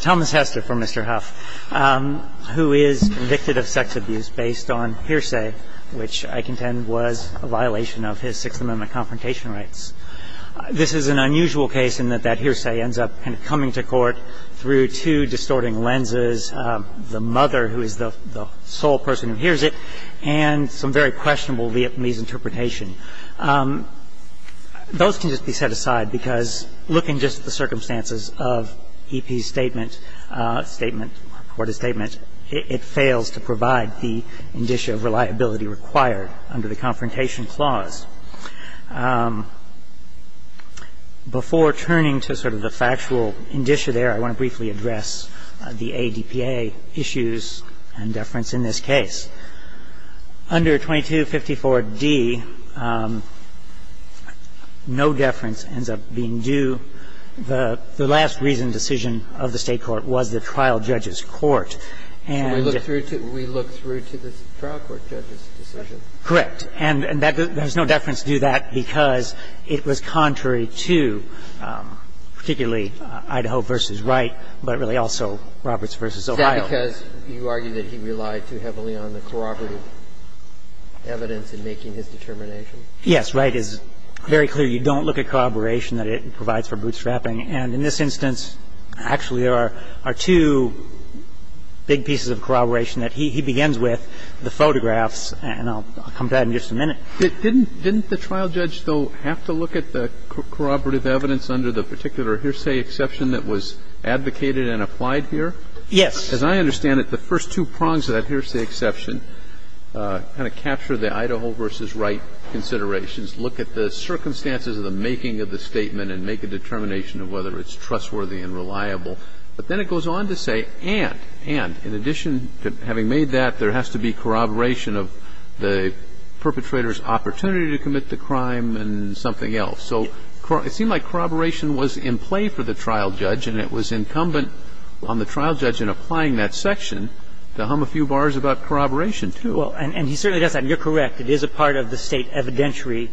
Thomas Hester for Mr. Houff, who is convicted of sex abuse based on hearsay, which I contend was a violation of his Sixth Amendment confrontation rights. This is an unusual case in that that hearsay ends up coming to court through two distorting lenses, the mother who is the sole person who hears it, and some very questionable Vietnamese interpretation. Those can just be set aside because look in just the circumstances of E.P.'s statement, report-of-statement. It fails to provide the indicia of reliability required under the Confrontation Clause. Before turning to sort of the factual indicia there, I want to briefly address the ADPA issues and deference in this case. Under 2254d, no deference ends up being due. The last reasoned decision of the State Court was the trial judge's court. And we look through to the trial court judge's decision. Correct. And there's no deference due to that because it was contrary to particularly Idaho v. Wright, but really also Roberts v. Ohio. So the reason that the trial judge's decision was contrary to the other two is because you argue that he relied too heavily on the corroborative evidence in making his determination. Yes. Wright is very clear. You don't look at corroboration that it provides for bootstrapping. And in this instance, actually, there are two big pieces of corroboration that he begins with, the photographs, and I'll come to that in just a minute. Didn't the trial judge, though, have to look at the corroborative evidence under the particular hearsay exception that was advocated and applied here? Yes. As I understand it, the first two prongs of that hearsay exception kind of capture the Idaho v. Wright considerations, look at the circumstances of the making of the statement, and make a determination of whether it's trustworthy and reliable. But then it goes on to say, and, and, in addition to having made that, there has to be corroboration of the perpetrator's opportunity to commit the crime and something else. So it seemed like corroboration was in play for the trial judge, and it was incumbent on the trial judge in applying that section to hum a few bars about corroboration, too. Well, and he certainly does that. And you're correct. It is a part of the State evidentiary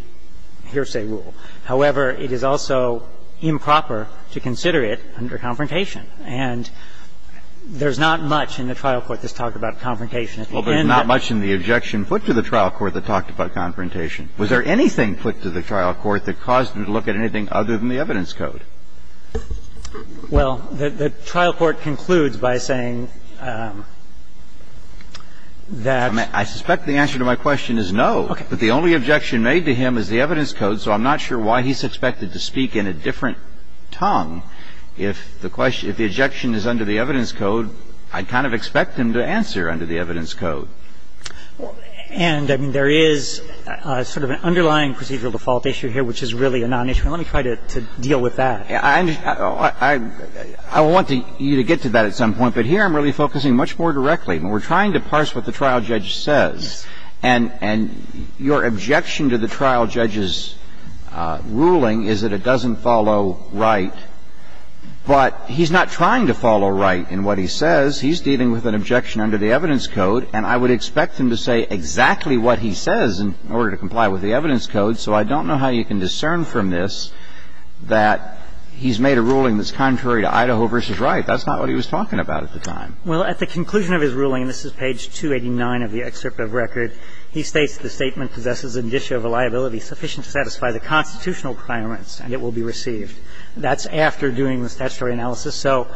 hearsay rule. However, it is also improper to consider it under confrontation. And there's not much in the trial court that's talked about confrontation at the end. Well, there's not much in the objection put to the trial court that talked about confrontation. Was there anything put to the trial court that caused him to look at anything other than the evidence code? Well, the trial court concludes by saying that the only objection made to him is the evidence code, so I'm not sure why he's expected to speak in a different tongue if the question, if the objection is under the evidence code, I'd kind of expect him to answer under the evidence code. And, I mean, there is sort of an underlying procedural default issue here, which is really a non-issue. And let me try to deal with that. I want you to get to that at some point, but here I'm really focusing much more directly. We're trying to parse what the trial judge says, and your objection to the trial judge's ruling is that it doesn't follow right, but he's not trying to follow right in what he says. He's dealing with an objection under the evidence code, and I would expect him to say exactly what he says in order to comply with the evidence code, so I don't know how you can discern from this that he's made a ruling that's contrary to Idaho v. Wright. That's not what he was talking about at the time. Well, at the conclusion of his ruling, and this is page 289 of the excerpt of record, he states the statement possesses an issue of reliability sufficient to satisfy the constitutional requirements and it will be received. That's after doing the statutory analysis. So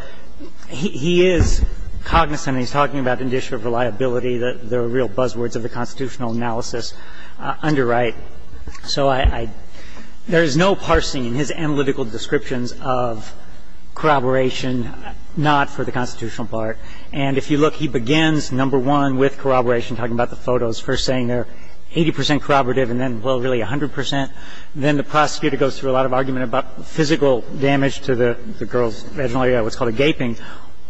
he is cognizant, and he's talking about an issue of reliability that there are real buzzwords of the constitutional analysis under Wright. So I — there is no parsing in his analytical descriptions of corroboration not for the constitutional part. And if you look, he begins, number one, with corroboration, talking about the photos, first saying they're 80 percent corroborative and then, well, really 100 percent. Then the prosecutor goes through a lot of argument about the physical damage to the girl's vaginal area, what's called a gaping,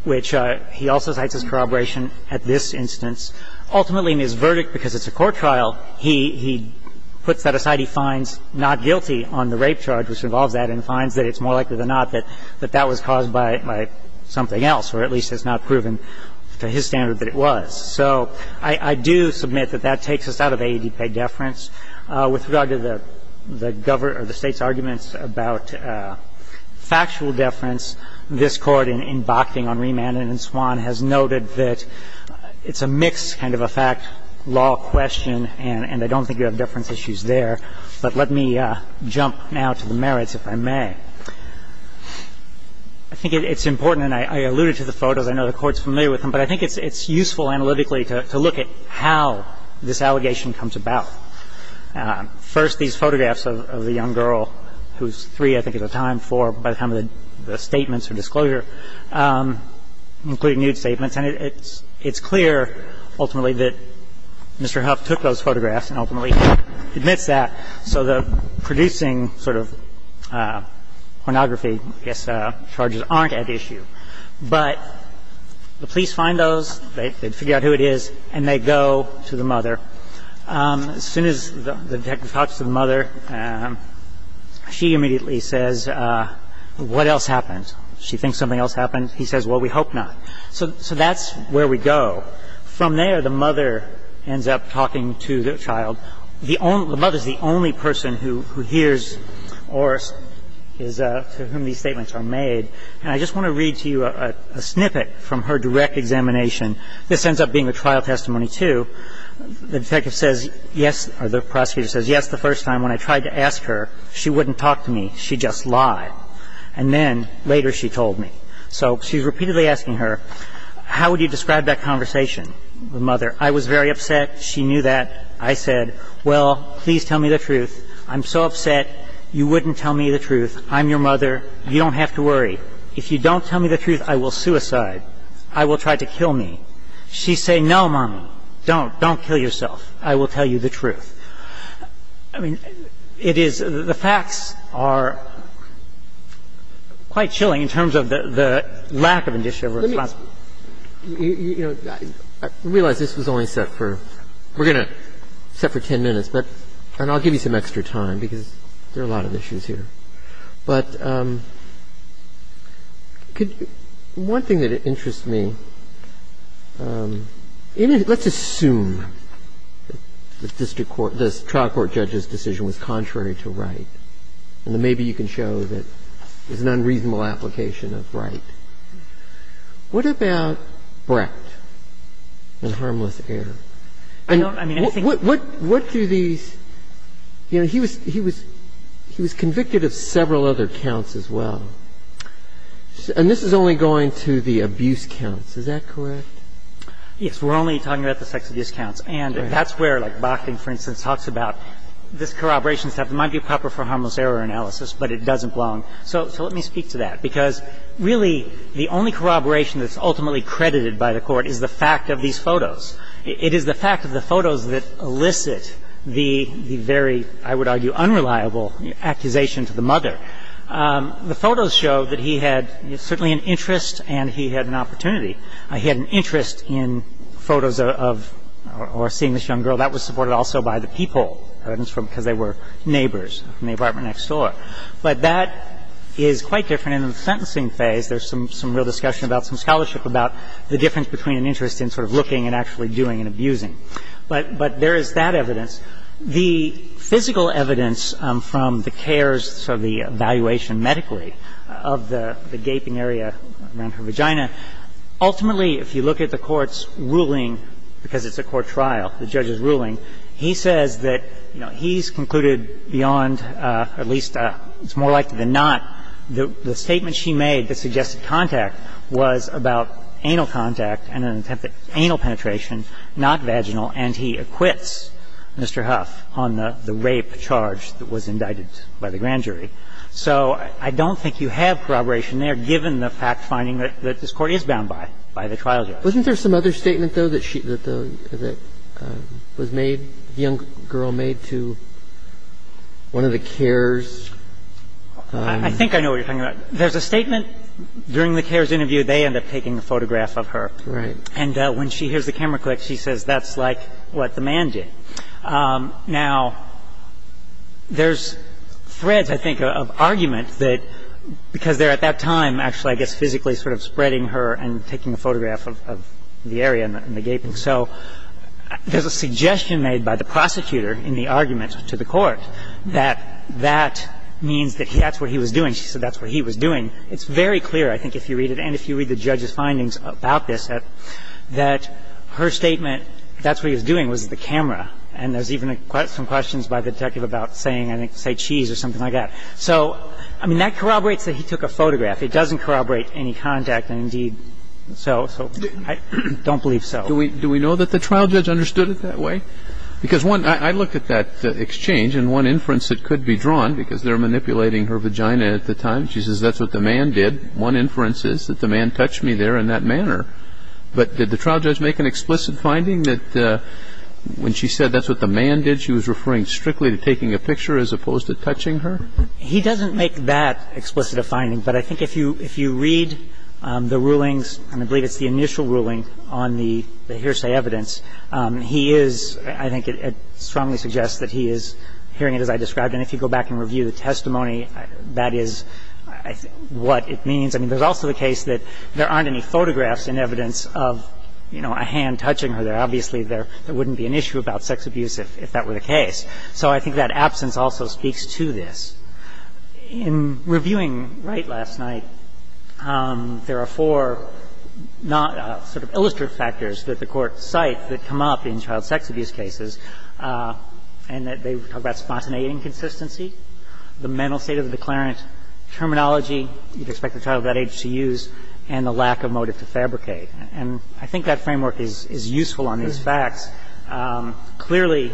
which he also cites as corroboration at this instance. Ultimately, in his verdict, because it's a court trial, he puts that aside. He finds not guilty on the rape charge, which involves that, and finds that it's more likely than not that that was caused by something else, or at least it's not proven to his standard that it was. So I do submit that that takes us out of AEDPEG deference. With regard to the State's arguments about factual deference, this Court, in Bakhting on Remand and in Swan, has noted that it's a mixed kind of a fact-law question, and I don't think you have deference issues there. But let me jump now to the merits, if I may. I think it's important, and I alluded to the photos. I know the Court's familiar with them. But I think it's useful analytically to look at how this allegation comes about. First, these photographs of the young girl, who's 3, I think, at the time, 4, by the time of the statements or disclosure, including nude statements. And it's clear, ultimately, that Mr. Huff took those photographs and ultimately admits that. So the producing sort of pornography charges aren't at issue. But the police find those, they figure out who it is, and they go to the mother. As soon as the detective talks to the mother, she immediately says, what else happened? She thinks something else happened. He says, well, we hope not. So that's where we go. From there, the mother ends up talking to the child. The mother's the only person who hears or to whom these statements are made. And I just want to read to you a snippet from her direct examination. This ends up being a trial testimony, too. The detective says, yes, or the prosecutor says, yes, the first time when I tried to ask her, she wouldn't talk to me. She just lied. And then, later, she told me. So she's repeatedly asking her, how would you describe that conversation, the mother? I was very upset. She knew that. I said, well, please tell me the truth. I'm so upset. You wouldn't tell me the truth. I'm your mother. You don't have to worry. If you don't tell me the truth, I will suicide. I will try to kill me. She's saying, no, mommy. Don't. Don't kill yourself. I will tell you the truth. I mean, it is the facts are quite chilling in terms of the lack of indiscriminate response. Let me, you know, I realize this was only set for, we're going to set for 10 minutes. But, and I'll give you some extra time because there are a lot of issues here. But one thing that interests me, let's assume that the district court, the trial court judge's decision was contrary to right. And then maybe you can show that there's an unreasonable application of right. What about Brett and Harmless Heir? I don't, I mean, anything. What do these, you know, he was, he was, he was convicted of several other counts as well. And this is only going to the abuse counts. Is that correct? Yes. We're only talking about the sex abuse counts. And that's where like Bakhtin, for instance, talks about this corroboration stuff. It might be proper for harmless error analysis, but it doesn't belong. So, so let me speak to that because really the only corroboration that's ultimately credited by the court is the fact of these photos. It is the fact of the photos that elicit the very, I would argue, unreliable accusation to the mother. The photos show that he had certainly an interest and he had an opportunity. He had an interest in photos of, or seeing this young girl. That was supported also by the people, because they were neighbors in the apartment next door. But that is quite different in the sentencing phase. There's some, some real discussion about, some scholarship about the difference between an interest in sort of looking and actually doing and abusing. But, but there is that evidence. The physical evidence from the cares, so the evaluation medically of the, the gaping area around her vagina, ultimately if you look at the court's ruling, because it's a court trial, the judge's ruling, he says that, you know, he's concluded beyond at least, it's more likely than not, that the statement she made that suggested contact was about anal contact and an attempt at anal penetration, not vaginal. And he acquits Mr. Huff on the, the rape charge that was indicted by the grand jury. So I don't think you have corroboration there, given the fact finding that, that this court is bound by, by the trial judge. Wasn't there some other statement, though, that she, that the, that was made, the young girl made to one of the cares? I think I know what you're talking about. There's a statement during the cares interview, they end up taking a photograph of her. Right. And when she hears the camera click, she says, that's like what the man did. Now, there's threads, I think, of argument that, because they're at that time, actually, I guess, physically sort of spreading her and taking a photograph of, of the area and the gaping. So there's a suggestion made by the prosecutor in the argument to the court that that means that that's what he was doing. She said that's what he was doing. It's very clear, I think, if you read it, and if you read the judge's findings about this, that her statement, that's what he was doing, was the camera. And there's even some questions by the detective about saying, I think, say cheese or something like that. So, I mean, that corroborates that he took a photograph. It doesn't corroborate any contact, and indeed, so, so I don't believe so. Do we know that the trial judge understood it that way? Because one, I looked at that exchange, and one inference that could be drawn, because they're manipulating her vagina at the time, she says, that's what the man did. One inference is that the man touched me there in that manner. But did the trial judge make an explicit finding that when she said that's what the man did, she was referring strictly to taking a picture as opposed to touching her? He doesn't make that explicit a finding. But I think if you read the rulings, and I believe it's the initial ruling on the hearsay evidence, he is, I think it strongly suggests that he is hearing it as I described. And if you go back and review the testimony, that is what it means. I mean, there's also the case that there aren't any photographs in evidence of, you know, a hand touching her there. Obviously, there wouldn't be an issue about sex abuse if that were the case. So I think that absence also speaks to this. In reviewing Wright last night, there are four not sort of illustrative factors that the Court cites that come up in child sex abuse cases, and they talk about spontaneity and consistency, the mental state of the declarant terminology, you'd expect a child of that age to use, and the lack of motive to fabricate. And I think that framework is useful on these facts. Clearly,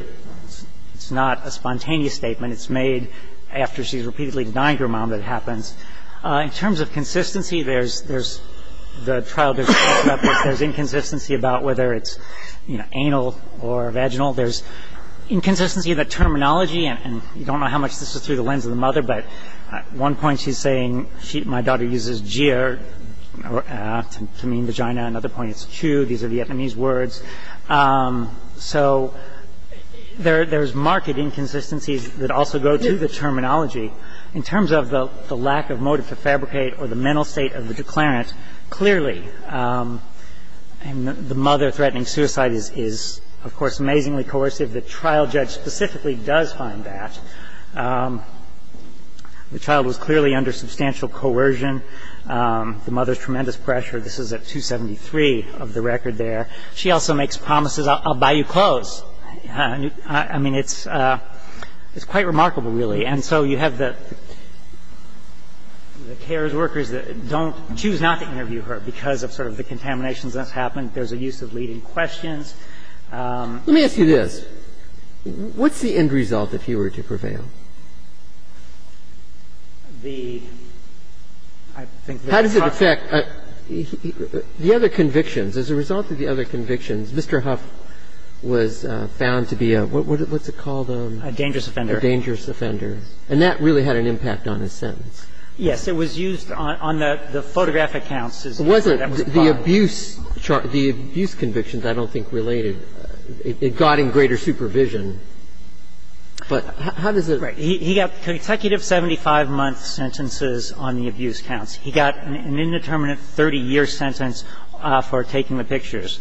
it's not a spontaneous statement. It's made after she's repeatedly denied to her mom that it happens. In terms of consistency, there's the trial, there's inconsistency about whether it's, you know, anal or vaginal. There's inconsistency in the terminology, and you don't know how much this is through the lens of the mother, but at one point she's saying my daughter uses jeer to mean vagina. At another point, it's cue. These are Vietnamese words. So there's marked inconsistencies that also go to the terminology. In terms of the lack of motive to fabricate or the mental state of the declarant, clearly, the mother threatening suicide is, of course, amazingly coercive. The trial judge specifically does find that. The child was clearly under substantial coercion. The mother's tremendous pressure. This is at 273 of the record there. She also makes promises, I'll buy you clothes. I mean, it's quite remarkable, really. And so you have the cares workers that don't choose not to interview her because of sort of the contaminations that's happened. There's a use of leading questions. Let me ask you this. What's the end result if he were to prevail? The other convictions. As a result of the other convictions, Mr. Huff was found to be a what's it called? A dangerous offender. A dangerous offender. And that really had an impact on his sentence. Yes. It was used on the photographic counts. Was it the abuse convictions? I don't think related. It got in greater supervision. But how does it? Right. He got consecutive 75-month sentences on the abuse counts. He got an indeterminate 30-year sentence for taking the pictures.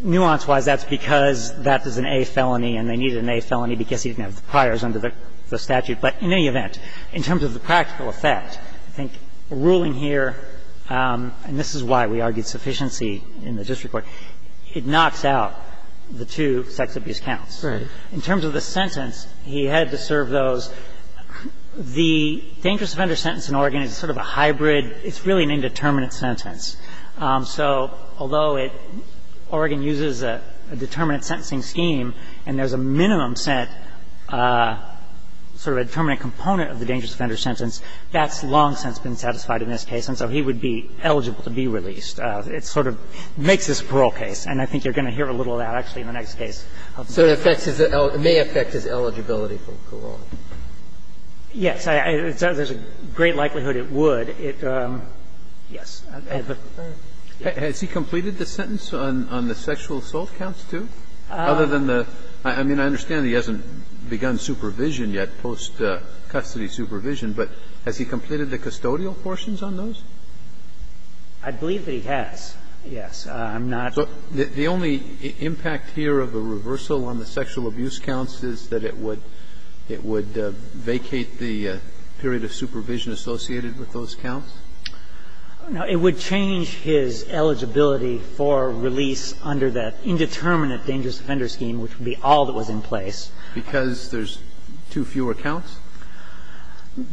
Nuance-wise, that's because that is an A felony and they needed an A felony because he didn't have the priors under the statute. But in any event, in terms of the practical effect, I think ruling here, and this is why we argued sufficiency in the district court, it knocks out the two sex abuse counts. Right. In terms of the sentence, he had to serve those. The dangerous offender sentence in Oregon is sort of a hybrid. It's really an indeterminate sentence. So although it – Oregon uses a determinate sentencing scheme and there's a minimum set sort of a determinate component of the dangerous offender sentence, that's long since been satisfied in this case. And so he would be eligible to be released. It sort of makes this a parole case. And I think you're going to hear a little of that actually in the next case. So it affects his – it may affect his eligibility for parole. Yes. There's a great likelihood it would. Yes. Has he completed the sentence on the sexual assault counts, too? Other than the – I mean, I understand he hasn't begun supervision yet, post-custody supervision, but has he completed the custodial portions on those? I believe that he has, yes. I'm not – So the only impact here of a reversal on the sexual abuse counts is that it would vacate the period of supervision associated with those counts? No. It would change his eligibility for release under that indeterminate dangerous offender scheme, which would be all that was in place. Because there's two fewer counts?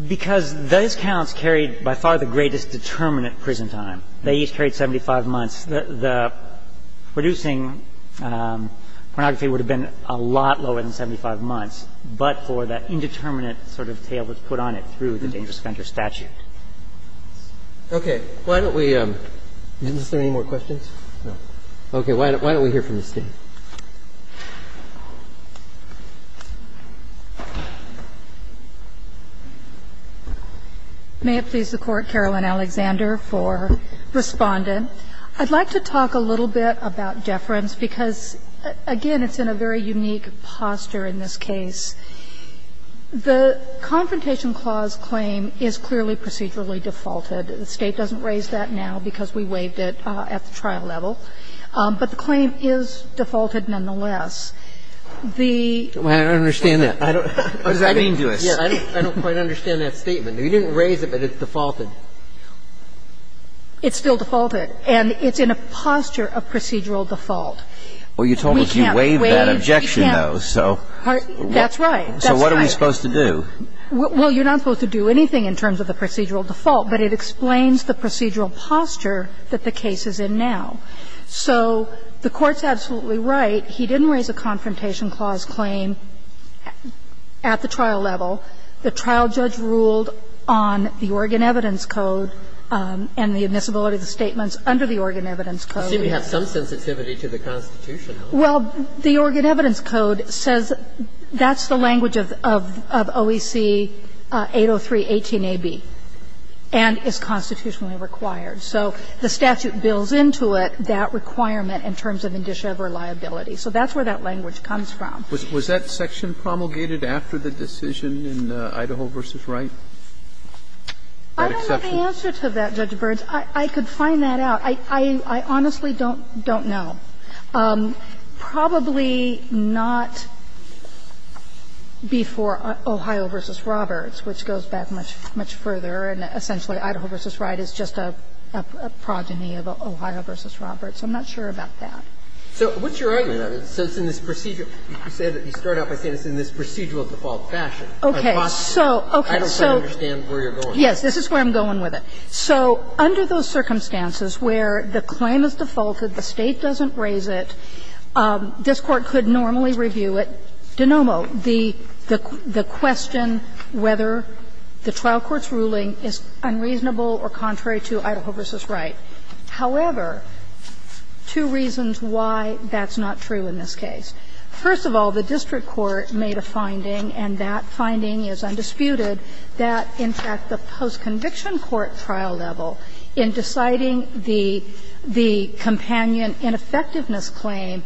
Because those counts carried by far the greatest determinate prison time. They each carried 75 months. The producing pornography would have been a lot lower than 75 months. But for that indeterminate sort of tail that's put on it through the dangerous offender statute. Okay. Why don't we – is there any more questions? No. Okay. Why don't we hear from the State? May it please the Court, Caroline Alexander for Respondent. I'd like to talk a little bit about deference, because, again, it's in a very unique posture in this case. The Confrontation Clause claim is clearly procedurally defaulted. The State doesn't raise that now because we waived it at the trial level. But the claim is defaulted nonetheless. The – I don't understand that. What does that mean to us? I don't quite understand that statement. You didn't raise it, but it's defaulted. It's still defaulted. And it's in a posture of procedural default. Well, you told us you waived that objection, though. So what are we supposed to do? Well, you're not supposed to do anything in terms of the procedural default, but it explains the procedural posture that the case is in now. So the Court's absolutely right. He didn't raise a Confrontation Clause claim at the trial level. The trial judge ruled on the Oregon Evidence Code and the admissibility of the statements under the Oregon Evidence Code. You see, we have some sensitivity to the Constitution. Well, the Oregon Evidence Code says that's the language of OEC-803-18AB and is constitutionally required. So the statute builds into it that requirement in terms of indice of reliability. So that's where that language comes from. Was that section promulgated after the decision in Idaho v. Wright? I don't have the answer to that, Judge Burns. I could find that out. I honestly don't know. Probably not before Ohio v. Roberts, which goes back much further, and essentially Idaho v. Wright is just a progeny of Ohio v. Roberts. I'm not sure about that. So what's your argument on this? So it's in this procedural – you start out by saying it's in this procedural default fashion. I don't quite understand where you're going with this. Yes. This is where I'm going with it. So under those circumstances where the claim is defaulted, the State doesn't raise it, this Court could normally review it de nomo. The question whether the trial court's ruling is unreasonable or contrary to Idaho v. Wright. However, two reasons why that's not true in this case. First of all, the district court made a finding, and that finding is undisputed, that in fact the post-conviction court trial level in deciding the companion ineffectiveness claim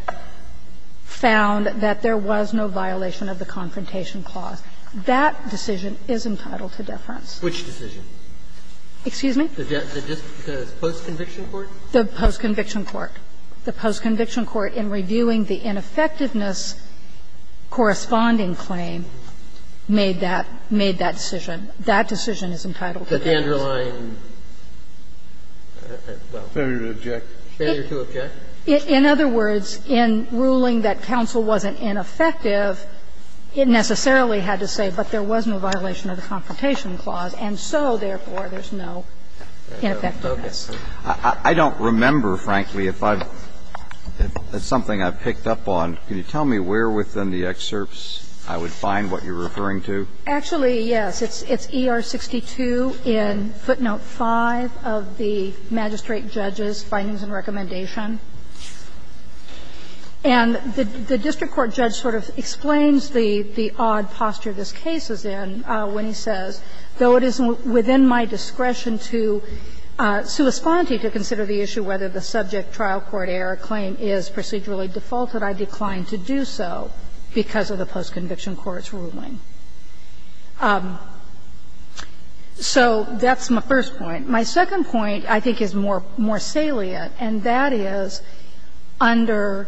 found that there was no violation of the confrontation clause. That decision is entitled to deference. Which decision? Excuse me? The post-conviction court? The post-conviction court. The post-conviction court, in reviewing the ineffectiveness corresponding claim, made that decision. That decision is entitled to deference. But the underlying – well, if I were to object. Failure to object? In other words, in ruling that counsel wasn't ineffective, it necessarily had to say, but there was no violation of the confrontation clause, and so, therefore, there's no ineffectiveness. I don't remember, frankly, if I've – if it's something I've picked up on. Can you tell me where within the excerpts I would find what you're referring to? Actually, yes. It's ER-62 in footnote 5 of the magistrate judge's findings and recommendation. And the district court judge sort of explains the odd posture this case is in when he says, though it is within my discretion to – sui splanti to consider the issue whether the subject trial court error claim is procedurally defaulted, I decline to do so because of the post-conviction court's ruling. So that's my first point. My second point, I think, is more salient, and that is under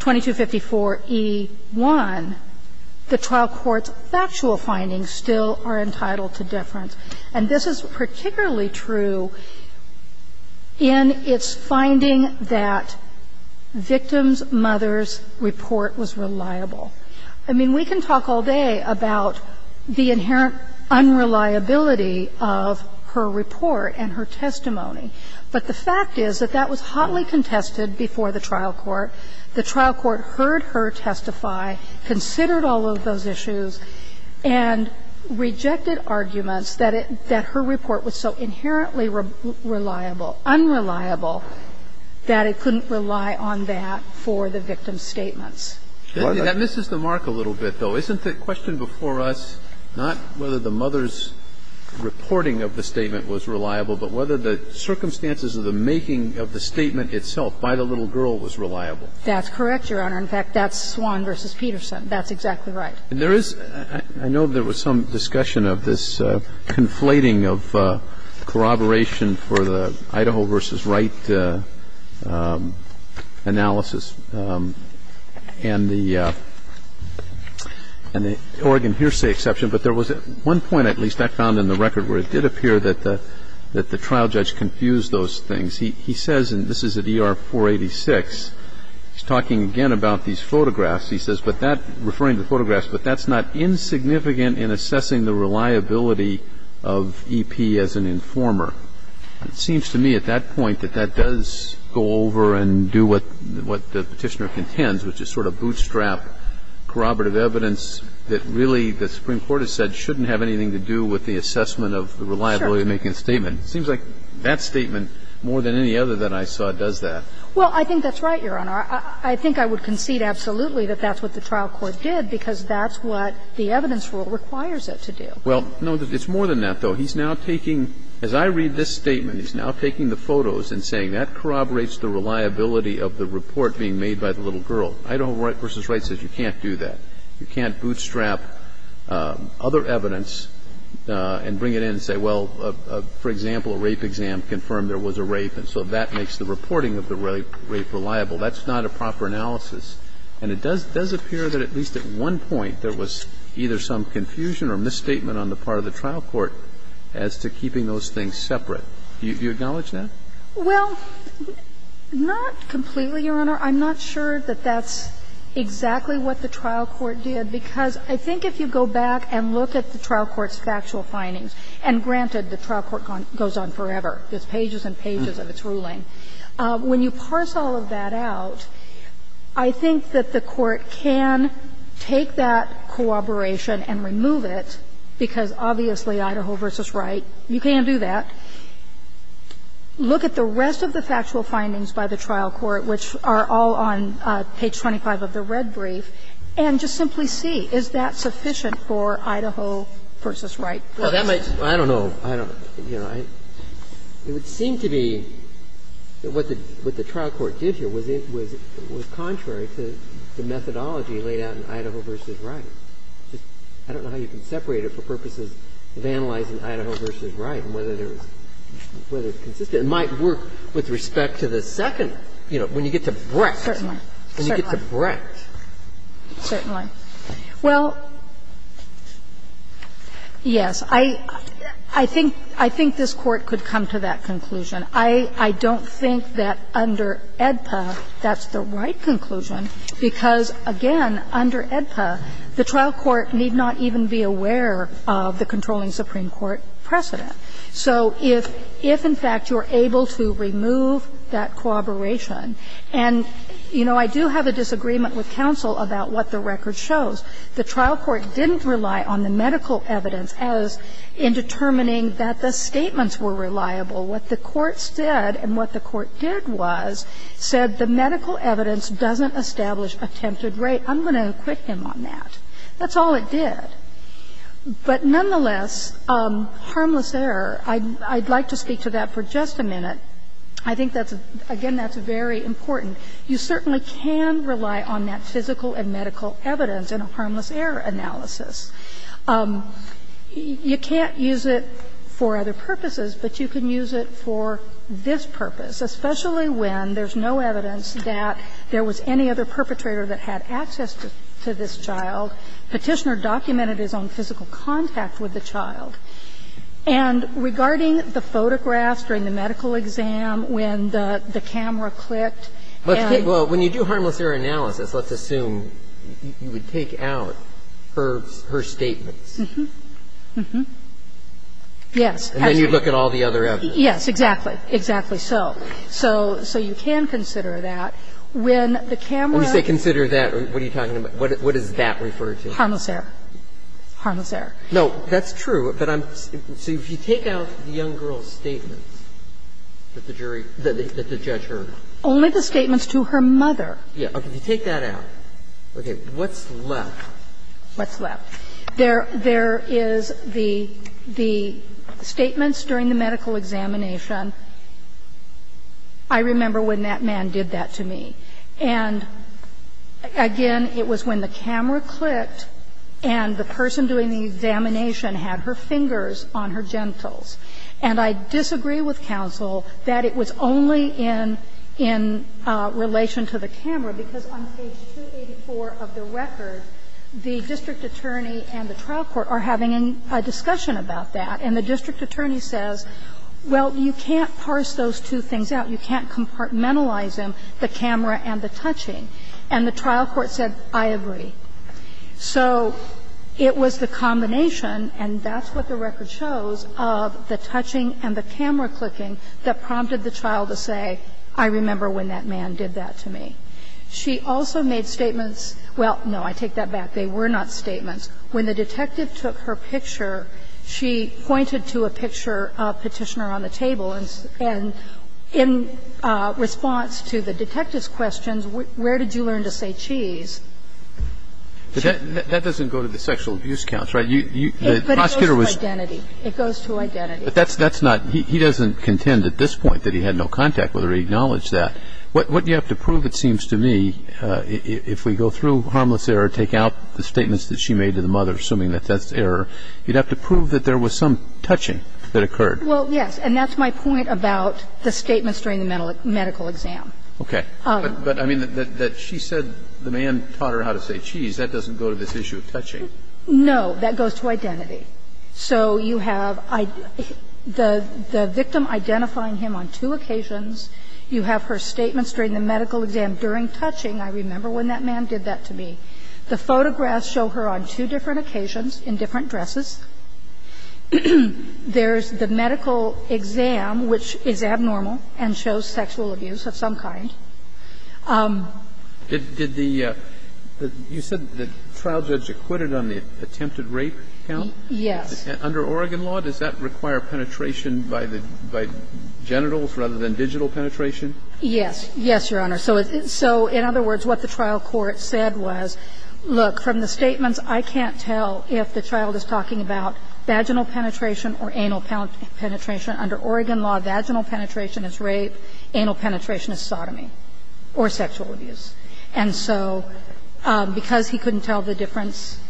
2254e1, the trial court's factual findings still are entitled to deference. And this is particularly true in its finding that victims' mother's report was reliable. I mean, we can talk all day about the inherent unreliability of her report and her testimony, but the fact is that that was hotly contested before the trial court. The trial court heard her testify, considered all of those issues, and rejected arguments that her report was so inherently reliable, unreliable, that it couldn't rely on that for the victim's statements. That misses the mark a little bit, though. Isn't the question before us not whether the mother's reporting of the statement was reliable, but whether the circumstances of the making of the statement itself by the little girl was reliable? That's correct, Your Honor. In fact, that's Swan v. Peterson. That's exactly right. And there is – I know there was some discussion of this conflating of corroboration for the Idaho v. Wright analysis and the Oregon hearsay exception, but there was at one point, at least, I found in the record where it did appear that the trial judge confused those things. He says, and this is at ER 486, he's talking again about these photographs. He says, but that – referring to photographs, but that's not insignificant in assessing the reliability of E.P. as an informer. It seems to me at that point that that does go over and do what the Petitioner contends, which is sort of bootstrap corroborative evidence that really the Supreme Court has said shouldn't have anything to do with the assessment of the reliability of making a statement. It seems like that statement, more than any other that I saw, does that. Well, I think that's right, Your Honor. I think I would concede absolutely that that's what the trial court did, because that's what the evidence rule requires it to do. Well, no, it's more than that, though. He's now taking – as I read this statement, he's now taking the photos and saying that corroborates the reliability of the report being made by the little girl. Idaho v. Wright says you can't do that. You can't bootstrap other evidence and bring it in and say, well, for example, a rape exam confirmed there was a rape, and so that makes the reporting of the rape reliable. That's not a proper analysis. And it does appear that at least at one point there was either some confusion or misstatement on the part of the trial court as to keeping those things separate. Do you acknowledge that? Well, not completely, Your Honor. I'm not sure that that's exactly what the trial court did, because I think if you go back and look at the trial court's factual findings, and granted, the trial court goes on forever, there's pages and pages of its ruling. When you parse all of that out, I think that the court can take that corroboration and remove it, because obviously, Idaho v. Wright, you can't do that. Look at the rest of the factual findings by the trial court, which are all on page 25 of the red brief, and just simply see, is that sufficient for Idaho v. Wright? Well, that might be. I don't know. I don't know. You know, it would seem to be that what the trial court did here was contrary to the methodology laid out in Idaho v. Wright. I don't know how you can separate it for purposes of analyzing Idaho v. Wright and whether it's consistent. It might work with respect to the second, you know, when you get to Brecht. Certainly. Certainly. When you get to Brecht. Certainly. Well, yes, I think this Court could come to that conclusion. I don't think that under AEDPA, that's the right conclusion, because, again, under AEDPA, the trial court need not even be aware of the controlling Supreme Court precedent. So if, in fact, you're able to remove that corroboration, and, you know, I do have a disagreement with counsel about what the record shows. The trial court didn't rely on the medical evidence as in determining that the statements were reliable. What the courts did and what the court did was said the medical evidence doesn't establish attempted rape. I'm going to acquit him on that. That's all it did. But nonetheless, harmless error, I'd like to speak to that for just a minute. I think that's, again, that's very important. You certainly can rely on that physical and medical evidence in a harmless error analysis. You can't use it for other purposes, but you can use it for this purpose, especially when there's no evidence that there was any other perpetrator that had access to this child. Petitioner documented his own physical contact with the child. And regarding the photographs during the medical exam, when the camera clicked and the other evidence. And then you look at all the other evidence. Yes, exactly. Exactly so. So you can consider that when the camera. When you say consider that, what are you talking about? What does that refer to? Harmless error. Harmless error. No, that's true. But I'm so if you take out the young girl's statements that the jury, that the judge heard. Only the statements to her mother. Yes. If you take that out. Okay. What's left? What's left? There is the statements during the medical examination. I remember when that man did that to me. And again, it was when the camera clicked and the person doing the examination had her fingers on her genitals. And I disagree with counsel that it was only in relation to the camera, because on page 284 of the record, the district attorney and the trial court are having a discussion about that. And the district attorney says, well, you can't parse those two things out. You can't compartmentalize them, the camera and the touching. And the trial court said, I agree. So it was the combination, and that's what the record shows, of the touching and the camera clicking that prompted the child to say, I remember when that man did that to me. She also made statements – well, no, I take that back. They were not statements. They were not statements. When the detective took her picture, she pointed to a picture of Petitioner on the table, and in response to the detective's questions, where did you learn to say cheese? But that doesn't go to the sexual abuse counts, right? The prosecutor was – But it goes to identity. It goes to identity. But that's not – he doesn't contend at this point that he had no contact with her. He acknowledged that. What you have to prove, it seems to me, if we go through Harmless Error, take out the statements that she made to the mother, assuming that that's error, you'd have to prove that there was some touching that occurred. Well, yes. And that's my point about the statements during the medical exam. Okay. But I mean, that she said the man taught her how to say cheese, that doesn't go to this issue of touching. No. That goes to identity. So you have the victim identifying him on two occasions. You have her statements during the medical exam during touching. I remember when that man did that to me. The photographs show her on two different occasions in different dresses. There's the medical exam, which is abnormal and shows sexual abuse of some kind. Did the – you said the trial judge acquitted on the attempted rape count? Yes. Under Oregon law, does that require penetration by the – by genitals rather than digital penetration? Yes. Yes, Your Honor. So in other words, what the trial court said was, look, from the statements, I can't tell if the child is talking about vaginal penetration or anal penetration. Under Oregon law, vaginal penetration is rape, anal penetration is sodomy or sexual abuse. And so because he couldn't tell the difference,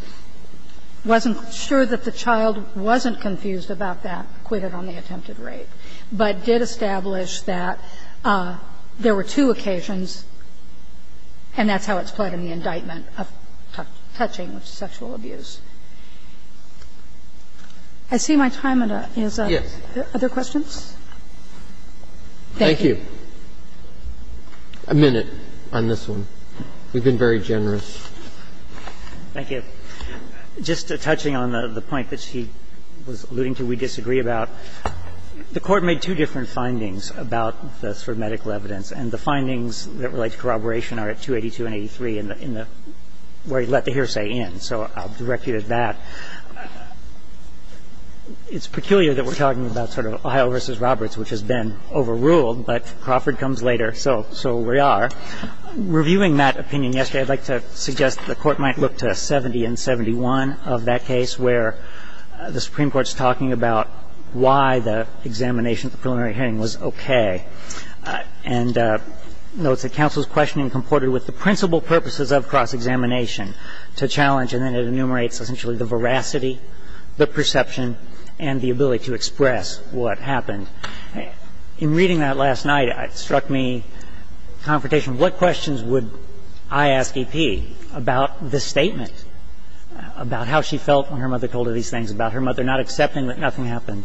wasn't sure that the child wasn't confused about that, acquitted on the attempted rape, but did establish that there were two occasions, and that's how it's played in the indictment of touching with sexual abuse. I see my time is up. Yes. Other questions? Thank you. A minute on this one. You've been very generous. Thank you. Just touching on the point that she was alluding to we disagree about, the Court made two different findings about the sort of medical evidence. And the findings that relate to corroboration are at 282 and 83 in the – where he let the hearsay in. So I'll direct you to that. It's peculiar that we're talking about sort of Ohio v. Roberts, which has been overruled, but Crawford comes later, so we are. Reviewing that opinion yesterday, I'd like to suggest the Court might look to 70 and 71 of that case, where the Supreme Court's talking about why the examination at the preliminary hearing was okay, and notes that counsel's questioning comported with the principal purposes of cross-examination to challenge, and then it enumerates essentially the veracity, the perception, and the ability to express what happened. In reading that last night, it struck me, confrontation, what questions would I ask about the Statement, about how she felt when her mother told her these things, about her mother not accepting that nothing happened.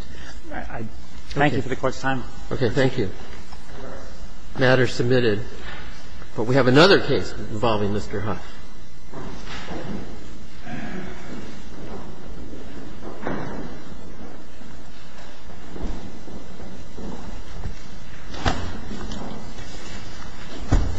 Thank you for the Court's time. Okay. Thank you. Matter submitted. But we have another case involving Mr. Huff.